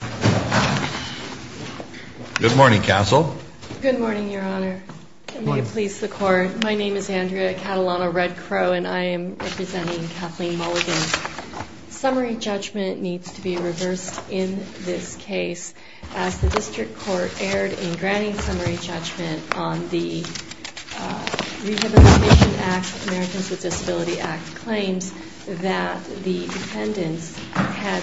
Good morning, Your Honor. May it please the Court, my name is Andrea Catalano-Red Crow and I am representing Kathleen Mulligan. Summary judgment needs to be reversed in this case as the District Court erred in granting summary judgment on the Rehabilitation Act, Americans with Disabilities Act claims that the defendants had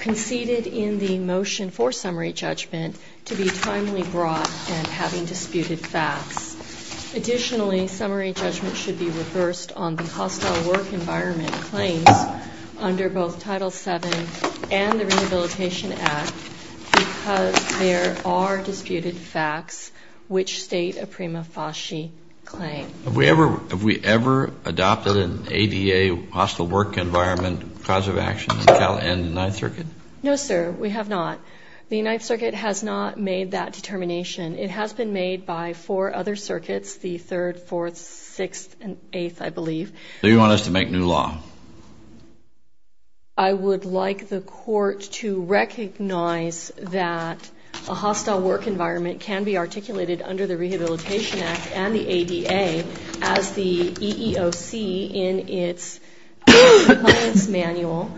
conceded in the motion for summary judgment to be timely brought and having disputed facts. Additionally, summary judgment should be reversed on the hostile work environment claims under both Title VII and the Rehabilitation Act because there are disputed facts which state a prima facie claim. Have we ever adopted an ADA hostile work environment cause of action in the 9th Circuit? No, sir, we have not. The 9th Circuit has not made that determination. It has been made by four other circuits, the 3rd, 4th, 6th and 8th, I believe. Do you want us to make new law? I would like the Court to recognize that a hostile work environment can be articulated under the Rehabilitation Act and the ADA as the EEOC in its compliance manual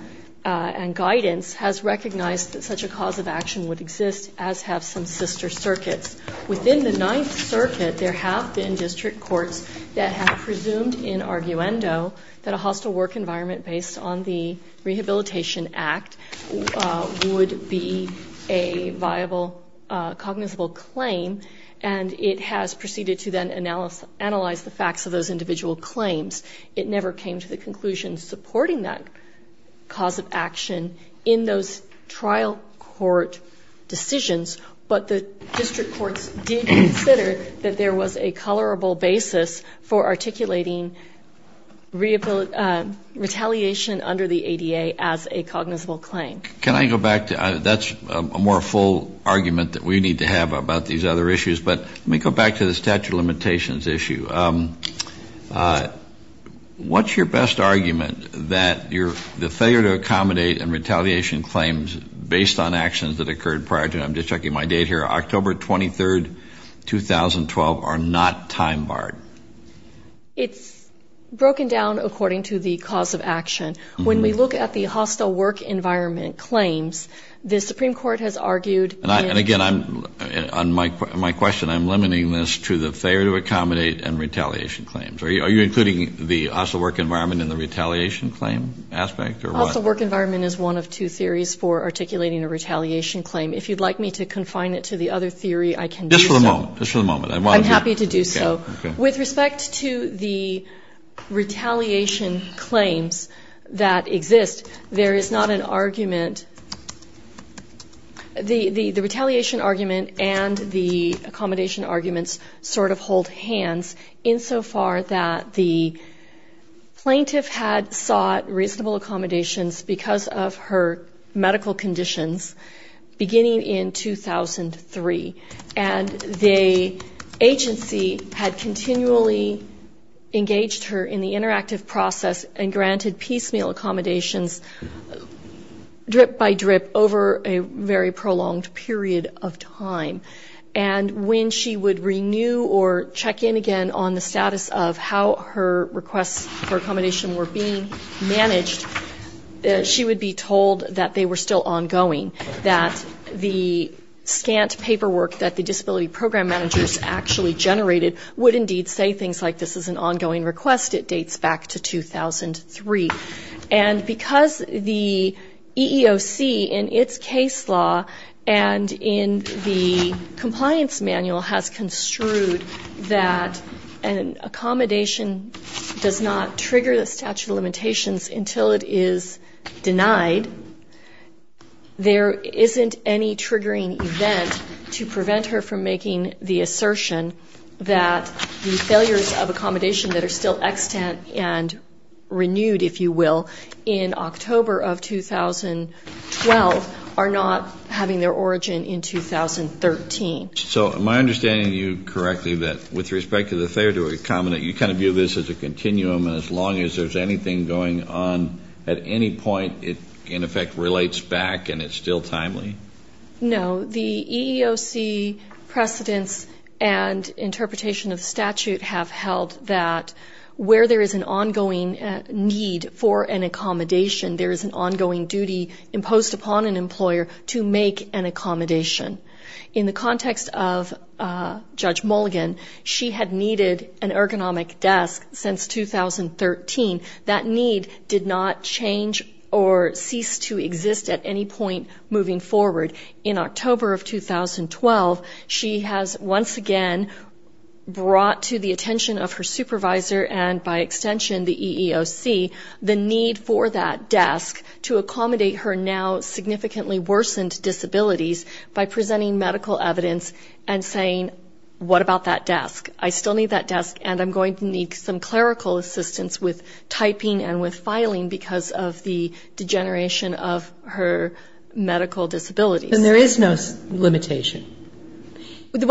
and guidance has recognized that such a cause of action would exist as have some sister circuits. Within the 9th Circuit, there have been District Courts that have presumed in arguendo that a hostile work environment based on the Rehabilitation Act would be a viable, cognizable claim and it has proceeded to then analyze the facts of those individual claims. It never came to the conclusion supporting that cause of action in those trial court decisions, but the District Courts did consider that there was a colorable basis for articulating retaliation under the ADA as a cognizable claim. Can I go back to, that's a more full argument that we need to have about these other issues, but let me go back to the statute of limitations issue. What's your best argument that the failure to accommodate and retaliation claims based on actions that occurred prior to, and I'm just checking my date here, October 23rd, 2012 are not time barred? It's broken down according to the cause of action. When we look at the hostile work environment claims, the Supreme Court has argued... And again, on my question, I'm limiting this to the failure to accommodate and retaliation claims. Are you including the hostile work environment in the retaliation claim aspect or what? Hostile work environment is one of two theories for articulating a retaliation claim. If you'd like me to confine it to the other theory, I can do so. Just for the moment, just for the moment. I'm happy to do so. With respect to the retaliation claims that exist, there is not an argument. The retaliation argument and the accommodation arguments sort of hold hands insofar that the plaintiff had sought reasonable accommodations because of her medical conditions beginning in 2003. And the agency had continually engaged her in the interactive process and granted piecemeal accommodations drip by drip over a very prolonged period of time. And when she would renew or check in again on the status of how her requests for accommodation were being managed, she would be told that they were still ongoing, that the scant paperwork that the disability program managers actually generated would indeed say things like this is an ongoing request, it dates back to 2003. And because the EEOC in its case law and in the compliance manual has construed that an accommodation does not trigger the statute of limitations until it is denied, there isn't any triggering event to prevent her from making the assertion that the failures of accommodation that are still extant and renewed, if you will, in October of 2012 are not having their origin in 2013. So am I understanding you correctly that with respect to the failure to accommodate, you kind of view this as a continuum as long as there's anything going on at any point and it in effect relates back and it's still timely? No. The EEOC precedents and interpretation of statute have held that where there is an ongoing need for an accommodation, there is an ongoing duty imposed upon an employer to make an accommodation. In the context of Judge Mulligan, she had needed an ergonomic desk since 2013. That need did not change or cease to exist at any point moving forward. In October of 2012, she has once again brought to the attention of her supervisor and by extension the EEOC the need for that desk to accommodate her now significantly worsened disabilities by presenting medical evidence and saying what about that desk? I still need that desk and I'm going to need some clerical assistance with typing and with filing because of the degeneration of her medical disabilities. Then there is no limitation. If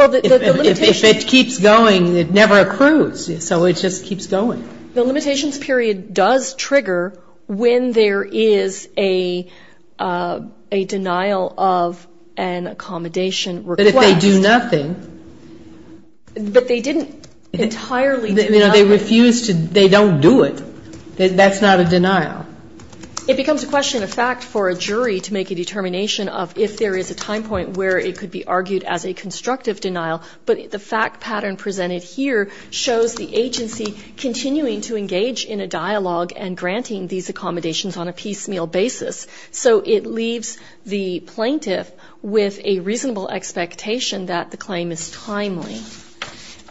it keeps going, it never accrues, so it just keeps going. The limitations period does trigger when there is a denial of an accommodation request. But if they do nothing. But they didn't entirely do nothing. They refused to, they don't do it. That's not a denial. It becomes a question of fact for a jury to make a determination of if there is a time point where it could be argued as a constructive denial, but the fact pattern presented here shows the agency continuing to engage in a dialogue and granting these accommodations on a piecemeal basis. So it leaves the plaintiff with a reasonable expectation that the claim is timely.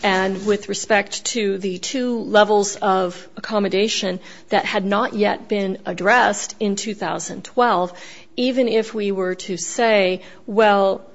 And with respect to the two levels of accommodation that had not yet been addressed in 2012, even if we were to say, well,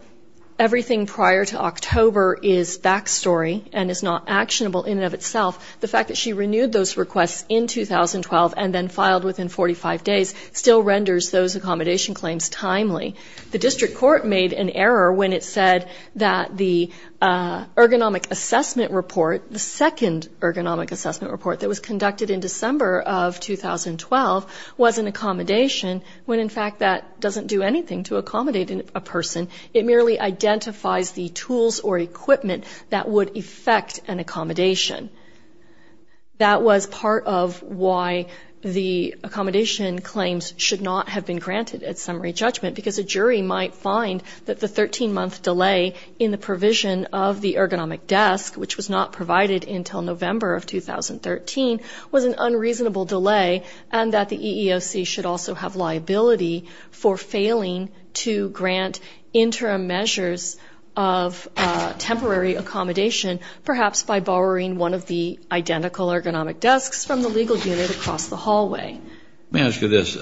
everything prior to October is backstory and is not actionable in and of itself. The fact that she renewed those requests in 2012 and then filed within 45 days still renders those accommodation claims timely. The district court made an error when it said that the ergonomic assessment report, the second ergonomic assessment report that was conducted in December of 2012 was an accommodation when in fact that doesn't do anything to accommodate a person. It merely identifies the tools or equipment that would affect an accommodation. That was part of why the accommodation claims should not have been granted at summary judgment because a jury might find that the 13-month delay in the provision of the ergonomic desk, which was not provided until November of 2013, was an unreasonable delay and that the EEOC should also have liability for failing to grant interim measures of temporary accommodation perhaps by borrowing one of the identical ergonomic desks from the legal unit across the hallway. Let me ask you this.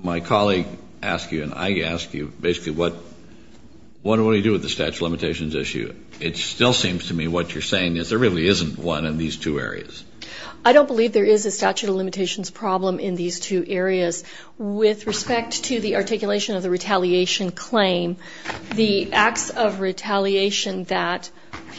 My colleague asked you and I asked you basically what do we do with the statute of limitations issue? It still seems to me what you're saying is there really isn't one in these two areas. I don't believe there is a statute of limitations problem in these two areas. With respect to the articulation of the retaliation claim, the acts of retaliation that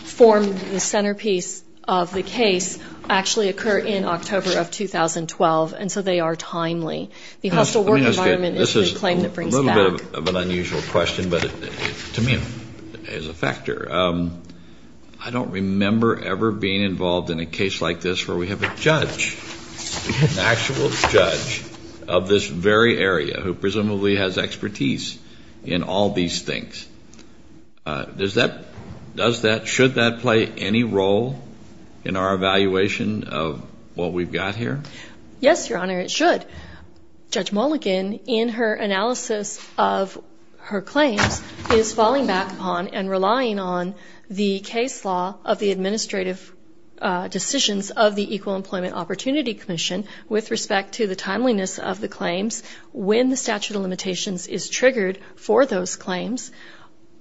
form the centerpiece of the case actually occur in October of 2012 and so they are timely. The hostile work environment is the claim that brings back. This is a little bit of an unusual question, but to me it's a factor. I don't remember ever being involved in a case like this where we have a judge, an actual judge of this very area who presumably has expertise in all these things. Does that, should that play any role in our evaluation of what we've got here? Yes, your honor, it should. Judge Mulligan in her analysis of her claims is falling back upon and relying on the case law of the administrative decisions of the Equal Employment Opportunity Commission with respect to the timeliness of the claims when the statute of limitations is triggered for those claims.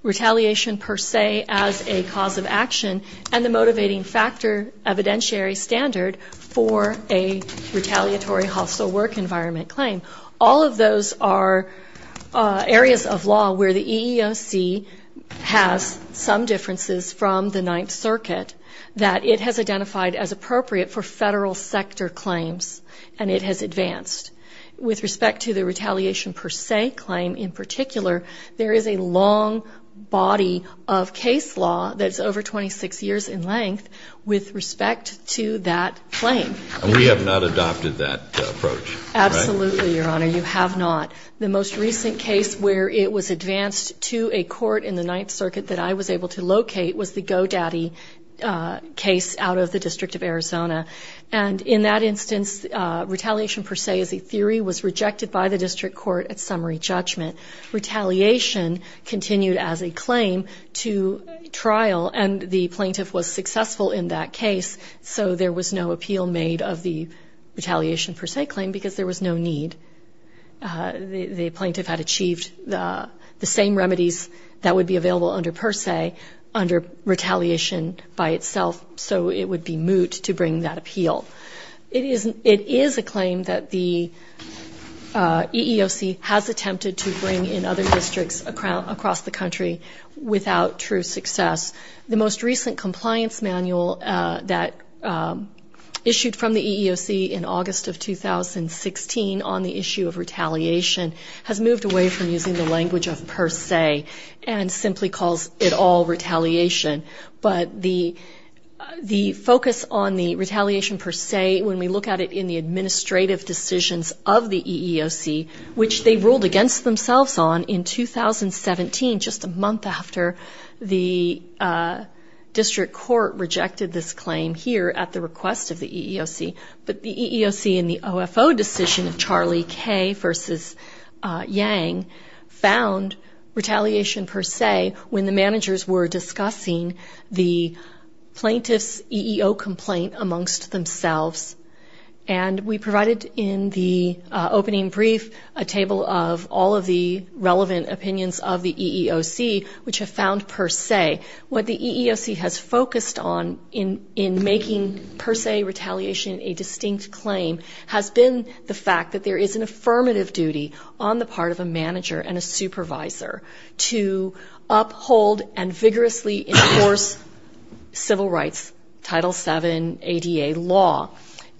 Retaliation per se as a cause of action and the motivating factor evidentiary standard for a retaliatory hostile work environment claim. All of those are areas of law where the EEOC has some differences from the Ninth Circuit that it has identified as appropriate for federal sector claims and it has advanced. With respect to the retaliation per se claim in particular, there is a long body of case law that's over 26 years in length with respect to that claim. And we have not adopted that approach, right? Absolutely, your honor, you have not. The most recent case where it was advanced to a court in the Ninth Circuit that I was able to locate was the Go Daddy case out of the District of Arizona. And in that instance, retaliation per se as a theory was rejected by the district court at summary judgment. Retaliation continued as a claim to trial and the plaintiff was successful in that case so there was no appeal made of the retaliation per se claim because there was no need. The plaintiff had achieved the same remedies that would be available under per se, under retaliation by itself so it would be moot to bring that appeal. It is a claim that the EEOC has attempted to bring in other districts across the country without true success. The most recent compliance manual that issued from the EEOC in August of 2016 on the issue of retaliation has moved away from using the language of per se and simply calls it all retaliation. But the focus on the retaliation per se when we look at it in the administrative decisions of the EEOC which they ruled against themselves on in 2017 just a month after the district court rejected this claim here at the request of the EEOC. But the EEOC in the OFO decision of Charlie Kay versus Yang found retaliation per se when the managers were discussing the plaintiff's EEO complaint amongst themselves and we provided in the opening brief a table of all of the relevant opinions of the EEOC which have found per se what the EEOC has focused on in making per se retaliation a distinct claim has been the fact that there is an affirmative duty on the part of a manager and a supervisor to uphold and vigorously enforce civil rights Title VII ADA law.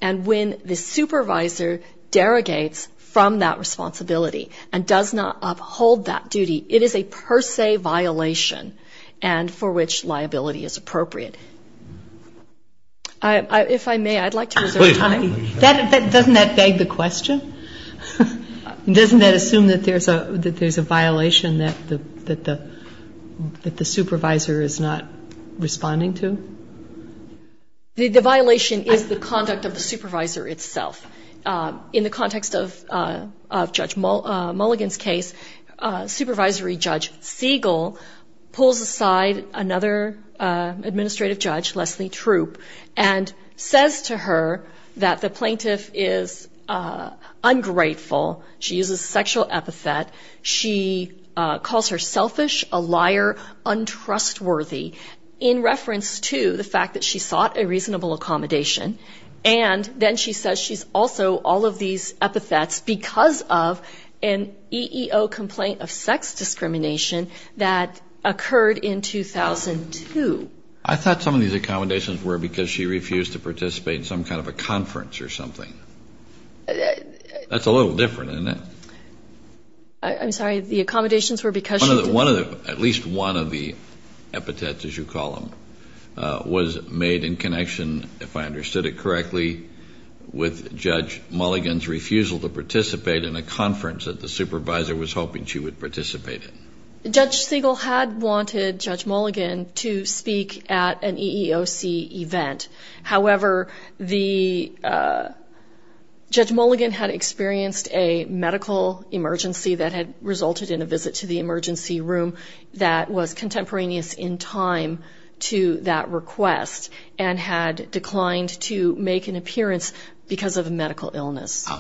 And when the supervisor derogates from that responsibility and does not uphold that duty, it is a per se violation and for which liability is appropriate. If I may, I'd like to reserve time. Doesn't that beg the question? Doesn't that assume that there's a violation that the supervisor is not responding to? The violation is the conduct of the supervisor itself. In the context of Judge Mulligan's case, Supervisory Judge Siegel pulls aside another administrative judge, Leslie Troop, and says to her that the plaintiff is ungrateful. She uses sexual epithet. She calls her selfish, a liar, untrustworthy in reference to the fact that she sought a reasonable accommodation. And then she says she's also all of these epithets because of an EEO complaint of sex discrimination that occurred in 2002. I thought some of these accommodations were because she refused to participate in some kind of a conference or something. That's a little different, isn't it? I'm sorry, the accommodations were because she's a... made in connection, if I understood it correctly, with Judge Mulligan's refusal to participate in a conference that the supervisor was hoping she would participate in. Judge Siegel had wanted Judge Mulligan to speak at an EEOC event. However, Judge Mulligan had experienced a medical emergency that had resulted in a visit to the emergency room that was contemporaneous in time to that request and had declined to make an appearance because of a medical illness.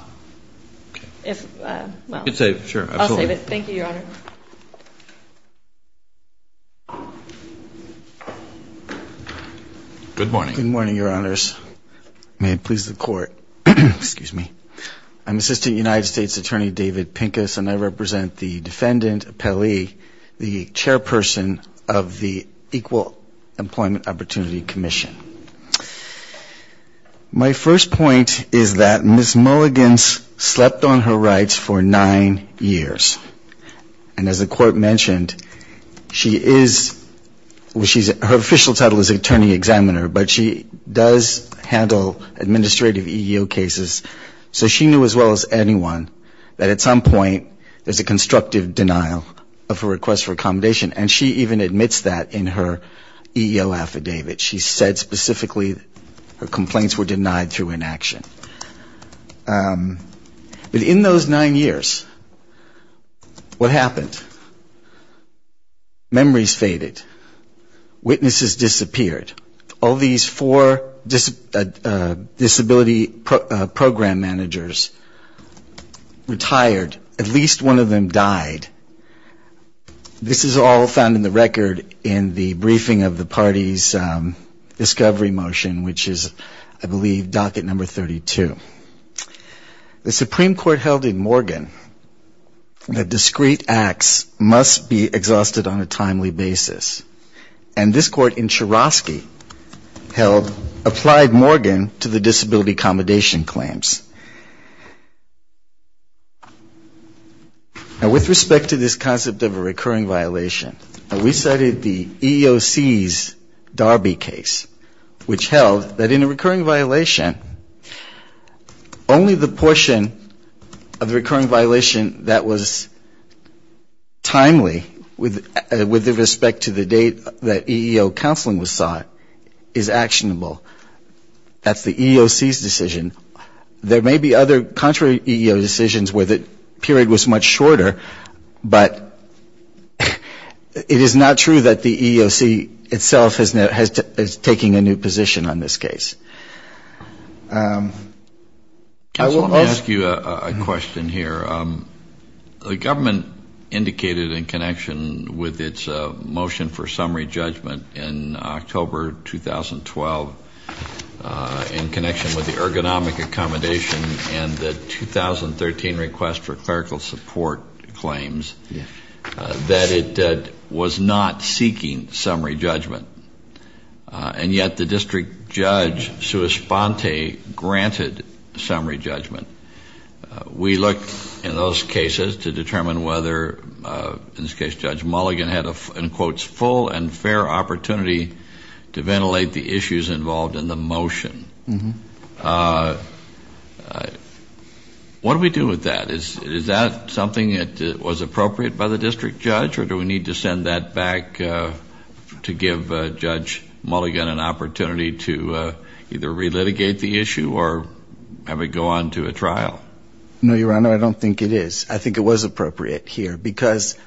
If, well... You can save it, sure. Absolutely. I'll save it. Thank you, Your Honor. Good morning. Good morning, Your Honors. May it please the Court. Excuse me. I'm Assistant United States Attorney David Pincus, and I represent the defendant Pelley, the chairperson of the Equal Employment Opportunity Commission. My first point is that Ms. Mulligan slept on her rights for nine years. And as the Court mentioned, she is... Her official title is attorney examiner, but she does handle administrative EEO cases. So she knew as well as anyone that at some point there's a constructive denial of a request for accommodation, and she even admits that in her EEO affidavit. She said specifically her complaints were denied through inaction. But in those nine years, what happened? Memories faded. Witnesses disappeared. All these four disability program managers retired. At least one of them died. This is all found in the record in the briefing of the party's discovery motion, which is, I believe, docket number 32. The Supreme Court held in Morgan that discreet acts must be exhausted on a timely basis. And this Court in Chorosky held, applied Morgan to the disability accommodation claims. Now with respect to this concept of a recurring violation, we cited the EEOC's Darby case, which held that in a recurring violation, only the portion of the recurring violation that was timely with respect to the date that EEO counseling was sought is actionable. That's the EEOC's decision. There may be other contrary EEO decisions where the period was much shorter, but it is not true that the EEOC itself is taking a new position on this case. I will ask you a question here. The government indicated in connection with its motion for summary judgment in October 2012, in connection with the ergonomic accommodation and the 2013 request for clerical support claims, that it was not seeking summary judgment. And yet the district judge, Sue Esponte, granted summary judgment. We looked in those cases to determine whether, in this case Judge Mulligan, had a, in quotes, full and fair opportunity to ventilate the issues involved in the motion. What do we do with that? Is that something that was appropriate by the district judge? Or do we need to send that back to give Judge Mulligan an opportunity to either relitigate the issue, or have it go on to a trial? No, Your Honor, I don't think it is. I think it was appropriate here because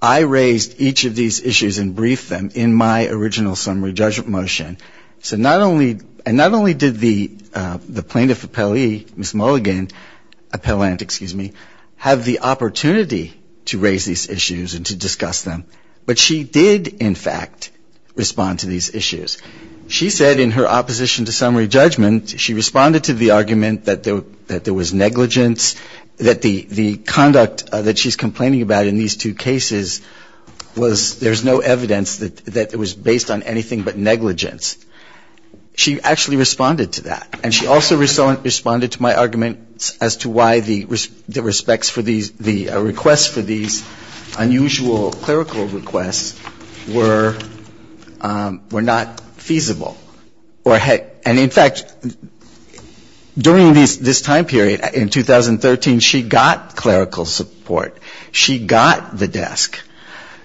I raised each of these issues and briefed them in my original summary judgment motion. So not only, and not only did the plaintiff appellee, Ms. Mulligan, appellant, excuse me, have the opportunity to raise these issues and to discuss them, but she did, in fact, respond to these issues. She said in her opposition to summary judgment, she responded to the argument that there was negligence, that the conduct that she's complaining about in these two cases was, there's no evidence that it was based on anything but negligence. She actually responded to that. And she also responded to my argument as to why the respects for these, the requests for these unusual clerical requests were not feasible. And, in fact, during this time period, in 2013, she got clerical support. She got the desk.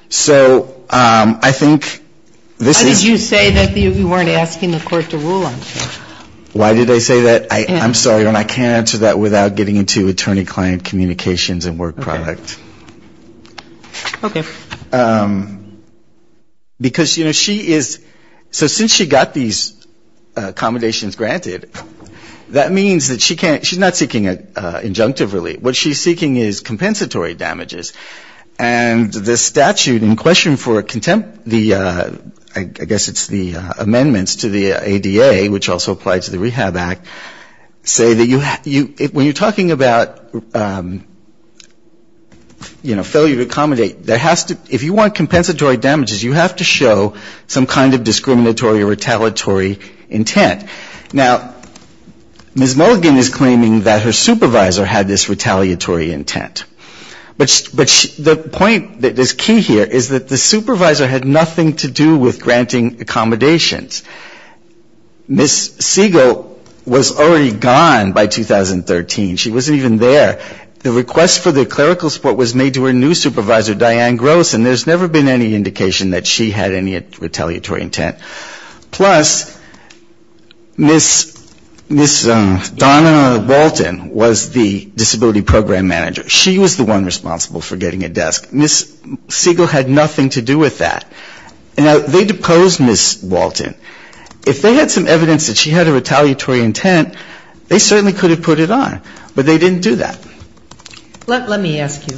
So I think this is an issue. Why did you say that you weren't asking the Court to rule on it? Why did I say that? I'm sorry, Your Honor. I can't answer that without getting into attorney-client communications and work product. Okay. Because, you know, she is, so since she got these accommodations granted, that means that she can't, she's not seeking an injunctive relief. What she's seeking is compensatory damages. And the statute in question for contempt, the, I guess it's the amendments to the ADA, which also apply to the Rehab Act, say that you, when you're talking about, you know, failure to accommodate, there has to, if you want compensatory damages, you have to show some kind of discriminatory or retaliatory intent. Now, Ms. Mulligan is claiming that her supervisor had this retaliatory intent. But the point that is key here is that the supervisor had nothing to do with granting accommodations. Ms. Siegel was already gone by 2013. She wasn't even there. The request for the clerical support was made to her new supervisor, Diane Gross, and there's never been any indication that she had any retaliatory intent. Plus, Ms. Donna Walton was the disability program manager. She was the one responsible for getting a desk. Ms. Siegel had nothing to do with that. Now, they deposed Ms. Walton. If they had some evidence that she had a retaliatory intent, they certainly could have put it on. But they didn't do that. Let me ask you,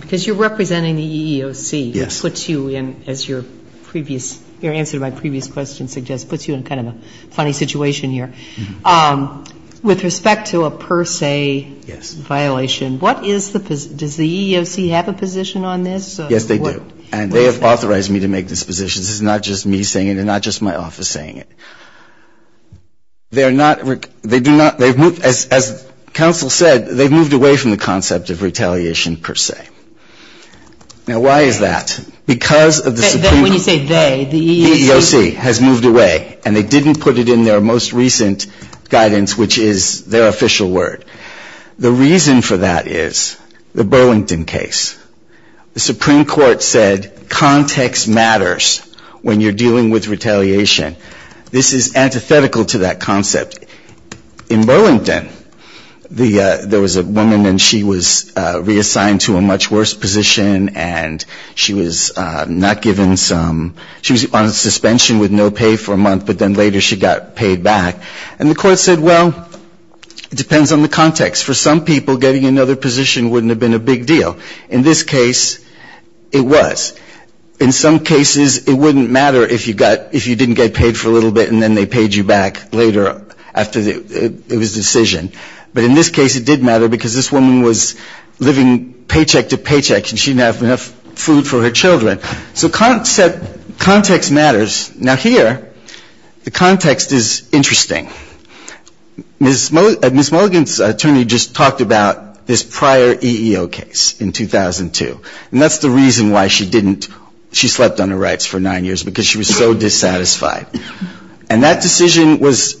because you're representing the EEOC. Yes. Which puts you in, as your previous, your answer to my previous question suggests, puts you in kind of a funny situation here. With respect to a per se violation, what is the, does the EEOC have a position on this? Yes, they do. And they have authorized me to make this position. This is not just me saying it and not just my office saying it. They are not, they do not, they've moved, as counsel said, they've moved away from the concept of retaliation per se. Now, why is that? Because of the Supreme Court. When you say they, the EEOC. The EEOC has moved away, and they didn't put it in their most recent guidance, which is their official word. The reason for that is the Burlington case. The Supreme Court said context matters when you're dealing with retaliation. This is antithetical to that concept. In Burlington, the, there was a woman, and she was reassigned to a much worse position, and she was not given some, she was on suspension with no pay for a month, but then later she got paid back. And the court said, well, it depends on the context. For some people, getting another position wouldn't have been a big deal. In this case, it was. In some cases, it wouldn't matter if you got, if you didn't get paid for a little bit, and then they paid you back later after the, it was a decision. But in this case, it did matter because this woman was living paycheck to paycheck, and she didn't have enough food for her children. So concept, context matters. Now, here, the context is interesting. Ms. Mulligan's attorney just talked about this prior EEO case in 2002. And that's the reason why she didn't, she slept on her rights for nine years, because she was so dissatisfied. And that decision was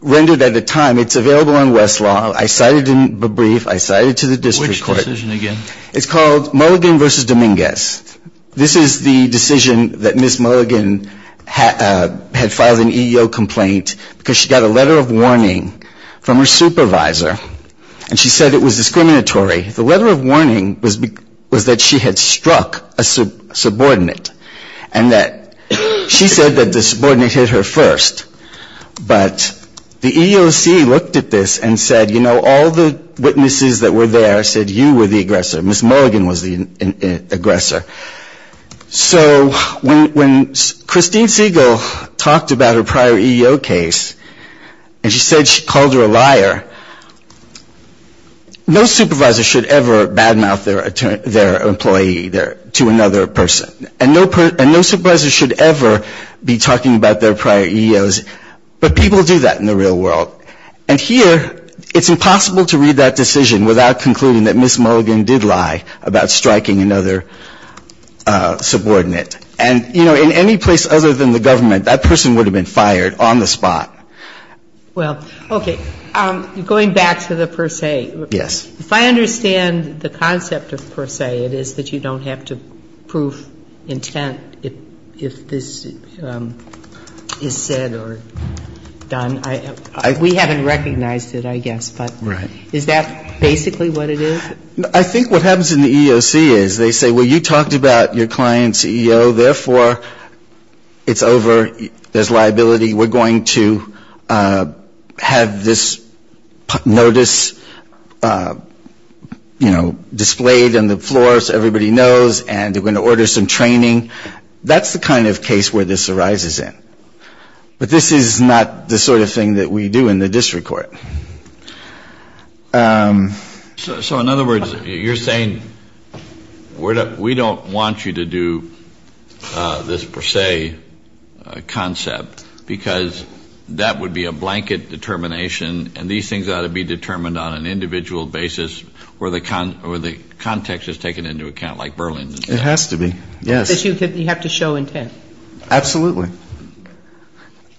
rendered at a time. It's available on Westlaw. I cited in a brief. I cited to the district court. Which decision again? It's called Mulligan v. Dominguez. This is the decision that Ms. Mulligan had filed an EEO complaint because she got a letter of warning from her supervisor. And she said it was discriminatory. The letter of warning was that she had struck a subordinate. And that she said that the subordinate hit her first. But the EEOC looked at this and said, you know, all the witnesses that were there said you were the aggressor. Ms. Mulligan was the aggressor. So when Christine Siegel talked about her prior EEO case, and she said she called her a liar, no supervisor should ever badmouth their employee to another person. And no supervisor should ever be talking about their prior EEOs. But people do that in the real world. And here it's impossible to read that decision without concluding that Ms. Mulligan struck a subordinate. And, you know, in any place other than the government, that person would have been fired on the spot. Well, okay. Going back to the per se. Yes. If I understand the concept of per se, it is that you don't have to prove intent if this is said or done. We haven't recognized it, I guess. Right. But is that basically what it is? I think what happens in the EEOC is they say, well, you talked about your client's EEO. Therefore, it's over. There's liability. We're going to have this notice, you know, displayed on the floor so everybody knows. And they're going to order some training. That's the kind of case where this arises in. But this is not the sort of thing that we do in the district court. So, in other words, you're saying we don't want you to do this per se concept because that would be a blanket determination, and these things ought to be determined on an individual basis where the context is taken into account, like Berlin did. It has to be, yes. So you have to show intent.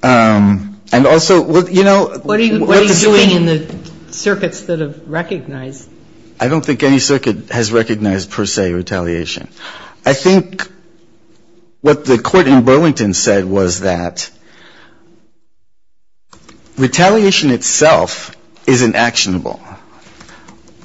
And also, you know, what does the EEO do? I don't think any circuit has recognized per se retaliation. I think what the court in Burlington said was that retaliation itself isn't actionable.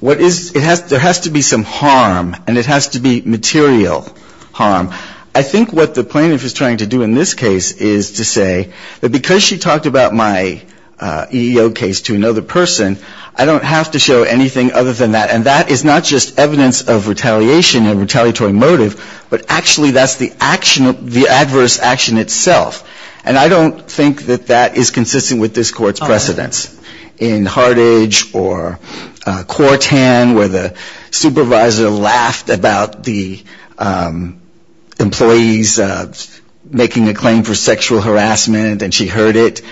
There has to be some harm, and it has to be material harm. I think what the plaintiff is trying to do in this case is to say that because she talked about my EEO case to another person, I don't have to show anything other than that. And that is not just evidence of retaliation and retaliatory motive, but actually that's the adverse action itself. And I don't think that that is consistent with this Court's precedence. In Hartage or Quartan where the supervisor laughed about the employees making a claim for sexual harassment and she heard it,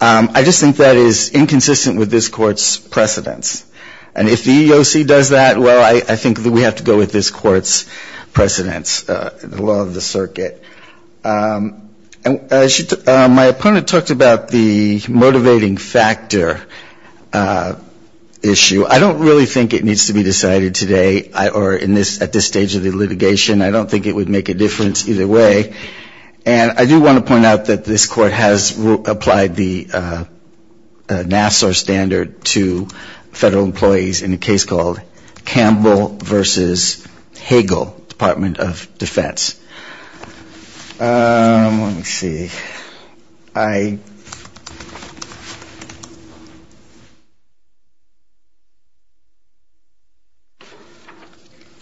I just think that is inconsistent with this Court's precedence. And if the EEOC does that, well, I think that we have to go with this Court's precedence, the law of the circuit. My opponent talked about the motivating factor issue. I don't really think it needs to be decided today or at this stage of the litigation. I don't think it would make a difference either way. And I do want to point out that this Court has applied the Nassau standard to federal employees in a case called Campbell v. Hagel, Department of Defense. Let me see.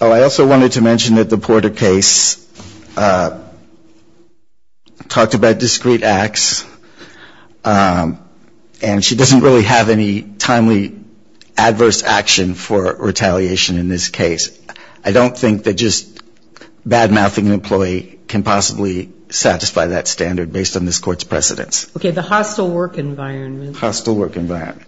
I also wanted to mention that the Porter case talked about discreet acts and she doesn't really have any timely adverse action for retaliation in this case. I don't think that just badmouthing an employee can possibly satisfy that standard based on this Court's precedence. Okay, the hostile work environment. Hostile work environment.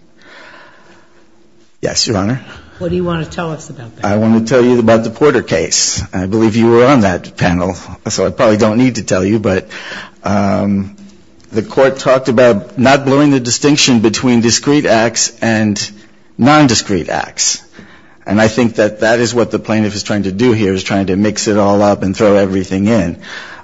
Yes, Your Honor. What do you want to tell us about that? I want to tell you about the Porter case. I believe you were on that panel, so I probably don't need to tell you, but the Court talked about not blurring the distinction between discreet acts and nondiscreet acts. And I think that that is what the plaintiff is trying to do here, is trying to mix it all up and throw everything in.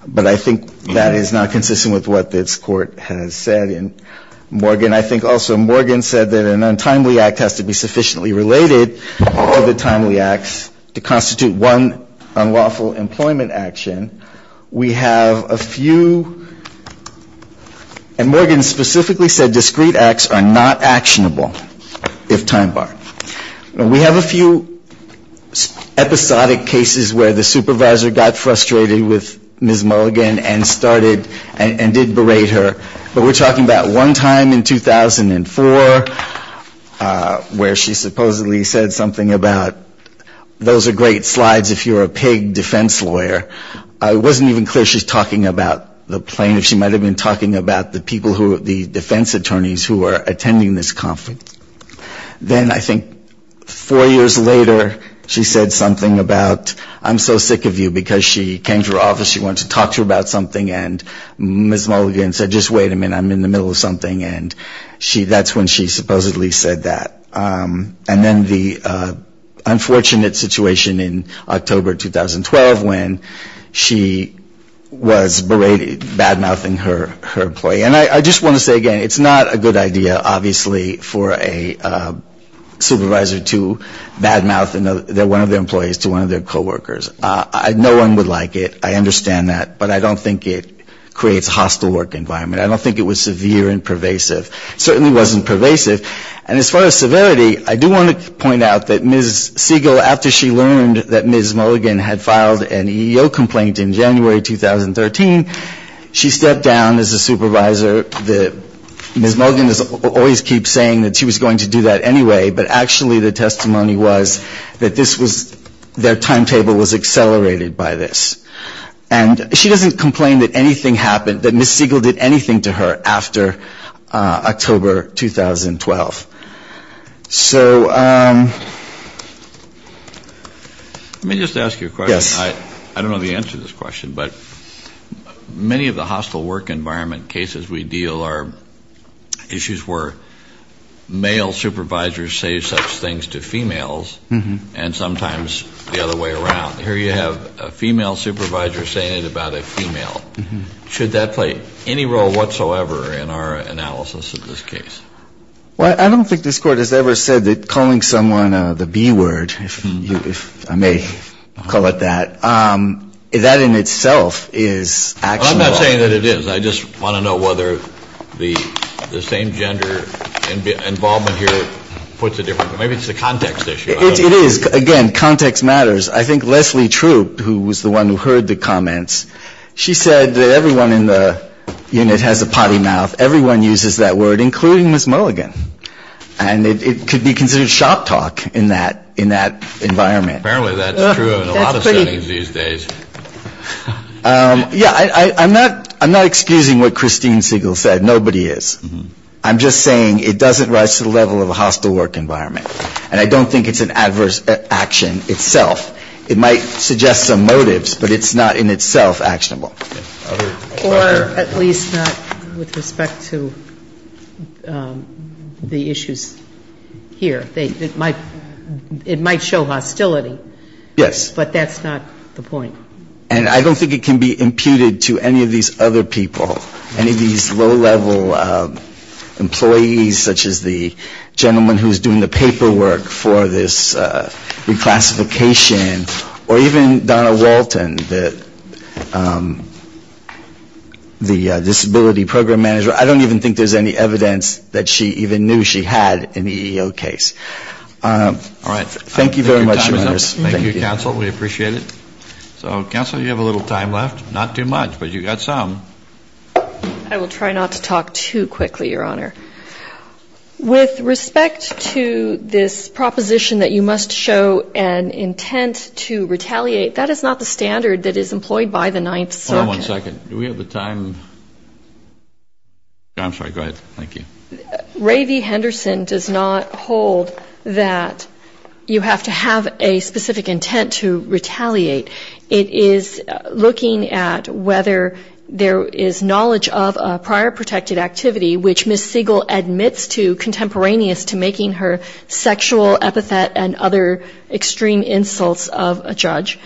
But I think that is not consistent with what this Court has said. And Morgan, I think also Morgan said that an untimely act has to be sufficiently related or the timely acts to constitute one unlawful employment action. We have a few, and Morgan specifically said discreet acts are not actionable if time-barred. We have a few episodic cases where the supervisor got frustrated with Ms. Mulligan and started and did berate her. But we're talking about one time in 2004 where she supposedly said something about, those are great slides if you're a paid defense lawyer. It wasn't even clear she was talking about the plaintiff. She might have been talking about the people who are the defense attorneys who are attending this conflict. Then I think four years later she said something about, I'm so sick of you because she came to her office, she wanted to talk to her about something, and Ms. Mulligan said, just wait a minute, I'm in the middle of something. And that's when she supposedly said that. And then the unfortunate situation in October 2012 when she was berated, bad-mouthing her employee. And I just want to say again, it's not a good idea, obviously, for a supervisor to bad-mouth one of their employees to one of their coworkers. No one would like it. I understand that. But I don't think it creates a hostile work environment. I don't think it was severe and pervasive. It certainly wasn't pervasive. And as far as severity, I do want to point out that Ms. Siegel, after she learned that Ms. Mulligan had filed an EEO complaint in January 2013, she stepped down as a supervisor. Ms. Mulligan always keeps saying that she was going to do that anyway, but actually the testimony was that this was, their timetable was accelerated by this. And she doesn't complain that anything happened, that Ms. Siegel did anything to her after October 2012. So let me just ask you a question. I don't know the answer to this question, but many of the hostile work environment cases we deal are issues where male supervisors say such things to females, and sometimes the other way around. Here you have a female supervisor saying it about a female. Should that play any role whatsoever in our analysis of this case? Well, I don't think this Court has ever said that calling someone the B word, if I may call it that, that in itself is actionable. Well, I'm not saying that it is. I just want to know whether the same gender involvement here puts it differently. Maybe it's the context issue. It is. Again, context matters. I think Leslie Troop, who was the one who heard the comments, she said that everyone in the unit has a potty mouth. Everyone uses that word, including Ms. Mulligan. And it could be considered shop talk in that environment. Apparently that's true in a lot of settings these days. Yeah, I'm not excusing what Christine Siegel said. Nobody is. I'm just saying it doesn't rise to the level of a hostile work environment. And I don't think it's an adverse action itself. It might suggest some motives, but it's not in itself actionable. Or at least not with respect to the issues here. It might show hostility. Yes. But that's not the point. And I don't think it can be imputed to any of these other people, any of these low-level employees, such as the gentleman who is doing the paperwork for this reclassification or even Donna Walton, the disability program manager. I don't even think there's any evidence that she even knew she had an EEO case. All right. Thank you very much. Thank you, counsel. We appreciate it. So, counsel, you have a little time left. Not too much, but you've got some. I will try not to talk too quickly, Your Honor. With respect to this proposition that you must show an intent to retaliate, that is not the standard that is employed by the Ninth Circuit. Hold on one second. Do we have the time? I'm sorry. Go ahead. Thank you. Ray V. Henderson does not hold that you have to have a specific intent to retaliate. It is looking at whether there is knowledge of a prior protected activity, which Ms. Siegel admits to contemporaneous to making her sexual epithet and other extreme insults of a judge.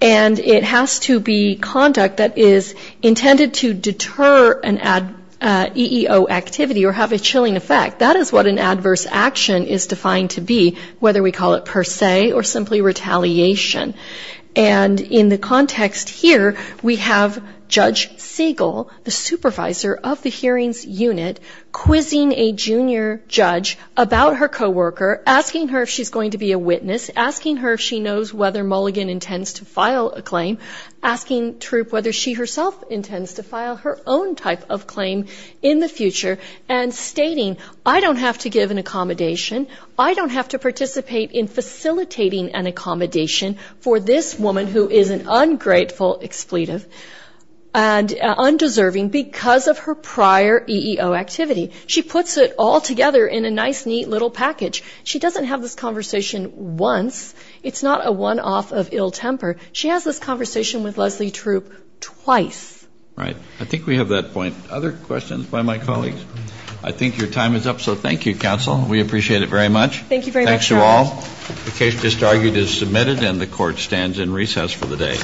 And it has to be conduct that is intended to deter an EEO activity or have a chilling effect. That is what an adverse action is defined to be, whether we call it per se or simply retaliation. And in the context here, we have Judge Siegel, the supervisor of the hearings unit, quizzing a junior judge about her co-worker, asking her if she's going to be a witness, asking her if she knows whether Mulligan intends to file a claim, asking Troup whether she herself intends to file her own type of claim in the future, and stating, I don't have to give an accommodation, I don't have to participate in facilitating an accommodation for this woman who is an ungrateful expletive and undeserving because of her prior EEO activity. She puts it all together in a nice, neat little package. She doesn't have this conversation once. It's not a one-off of ill temper. She has this conversation with Leslie Troup twice. Right. I think we have that point. Other questions by my colleagues? I think your time is up, so thank you, counsel. We appreciate it very much. Thank you very much, Your Honor. Thanks to all. The case just argued is submitted, and the Court stands in recess for the day.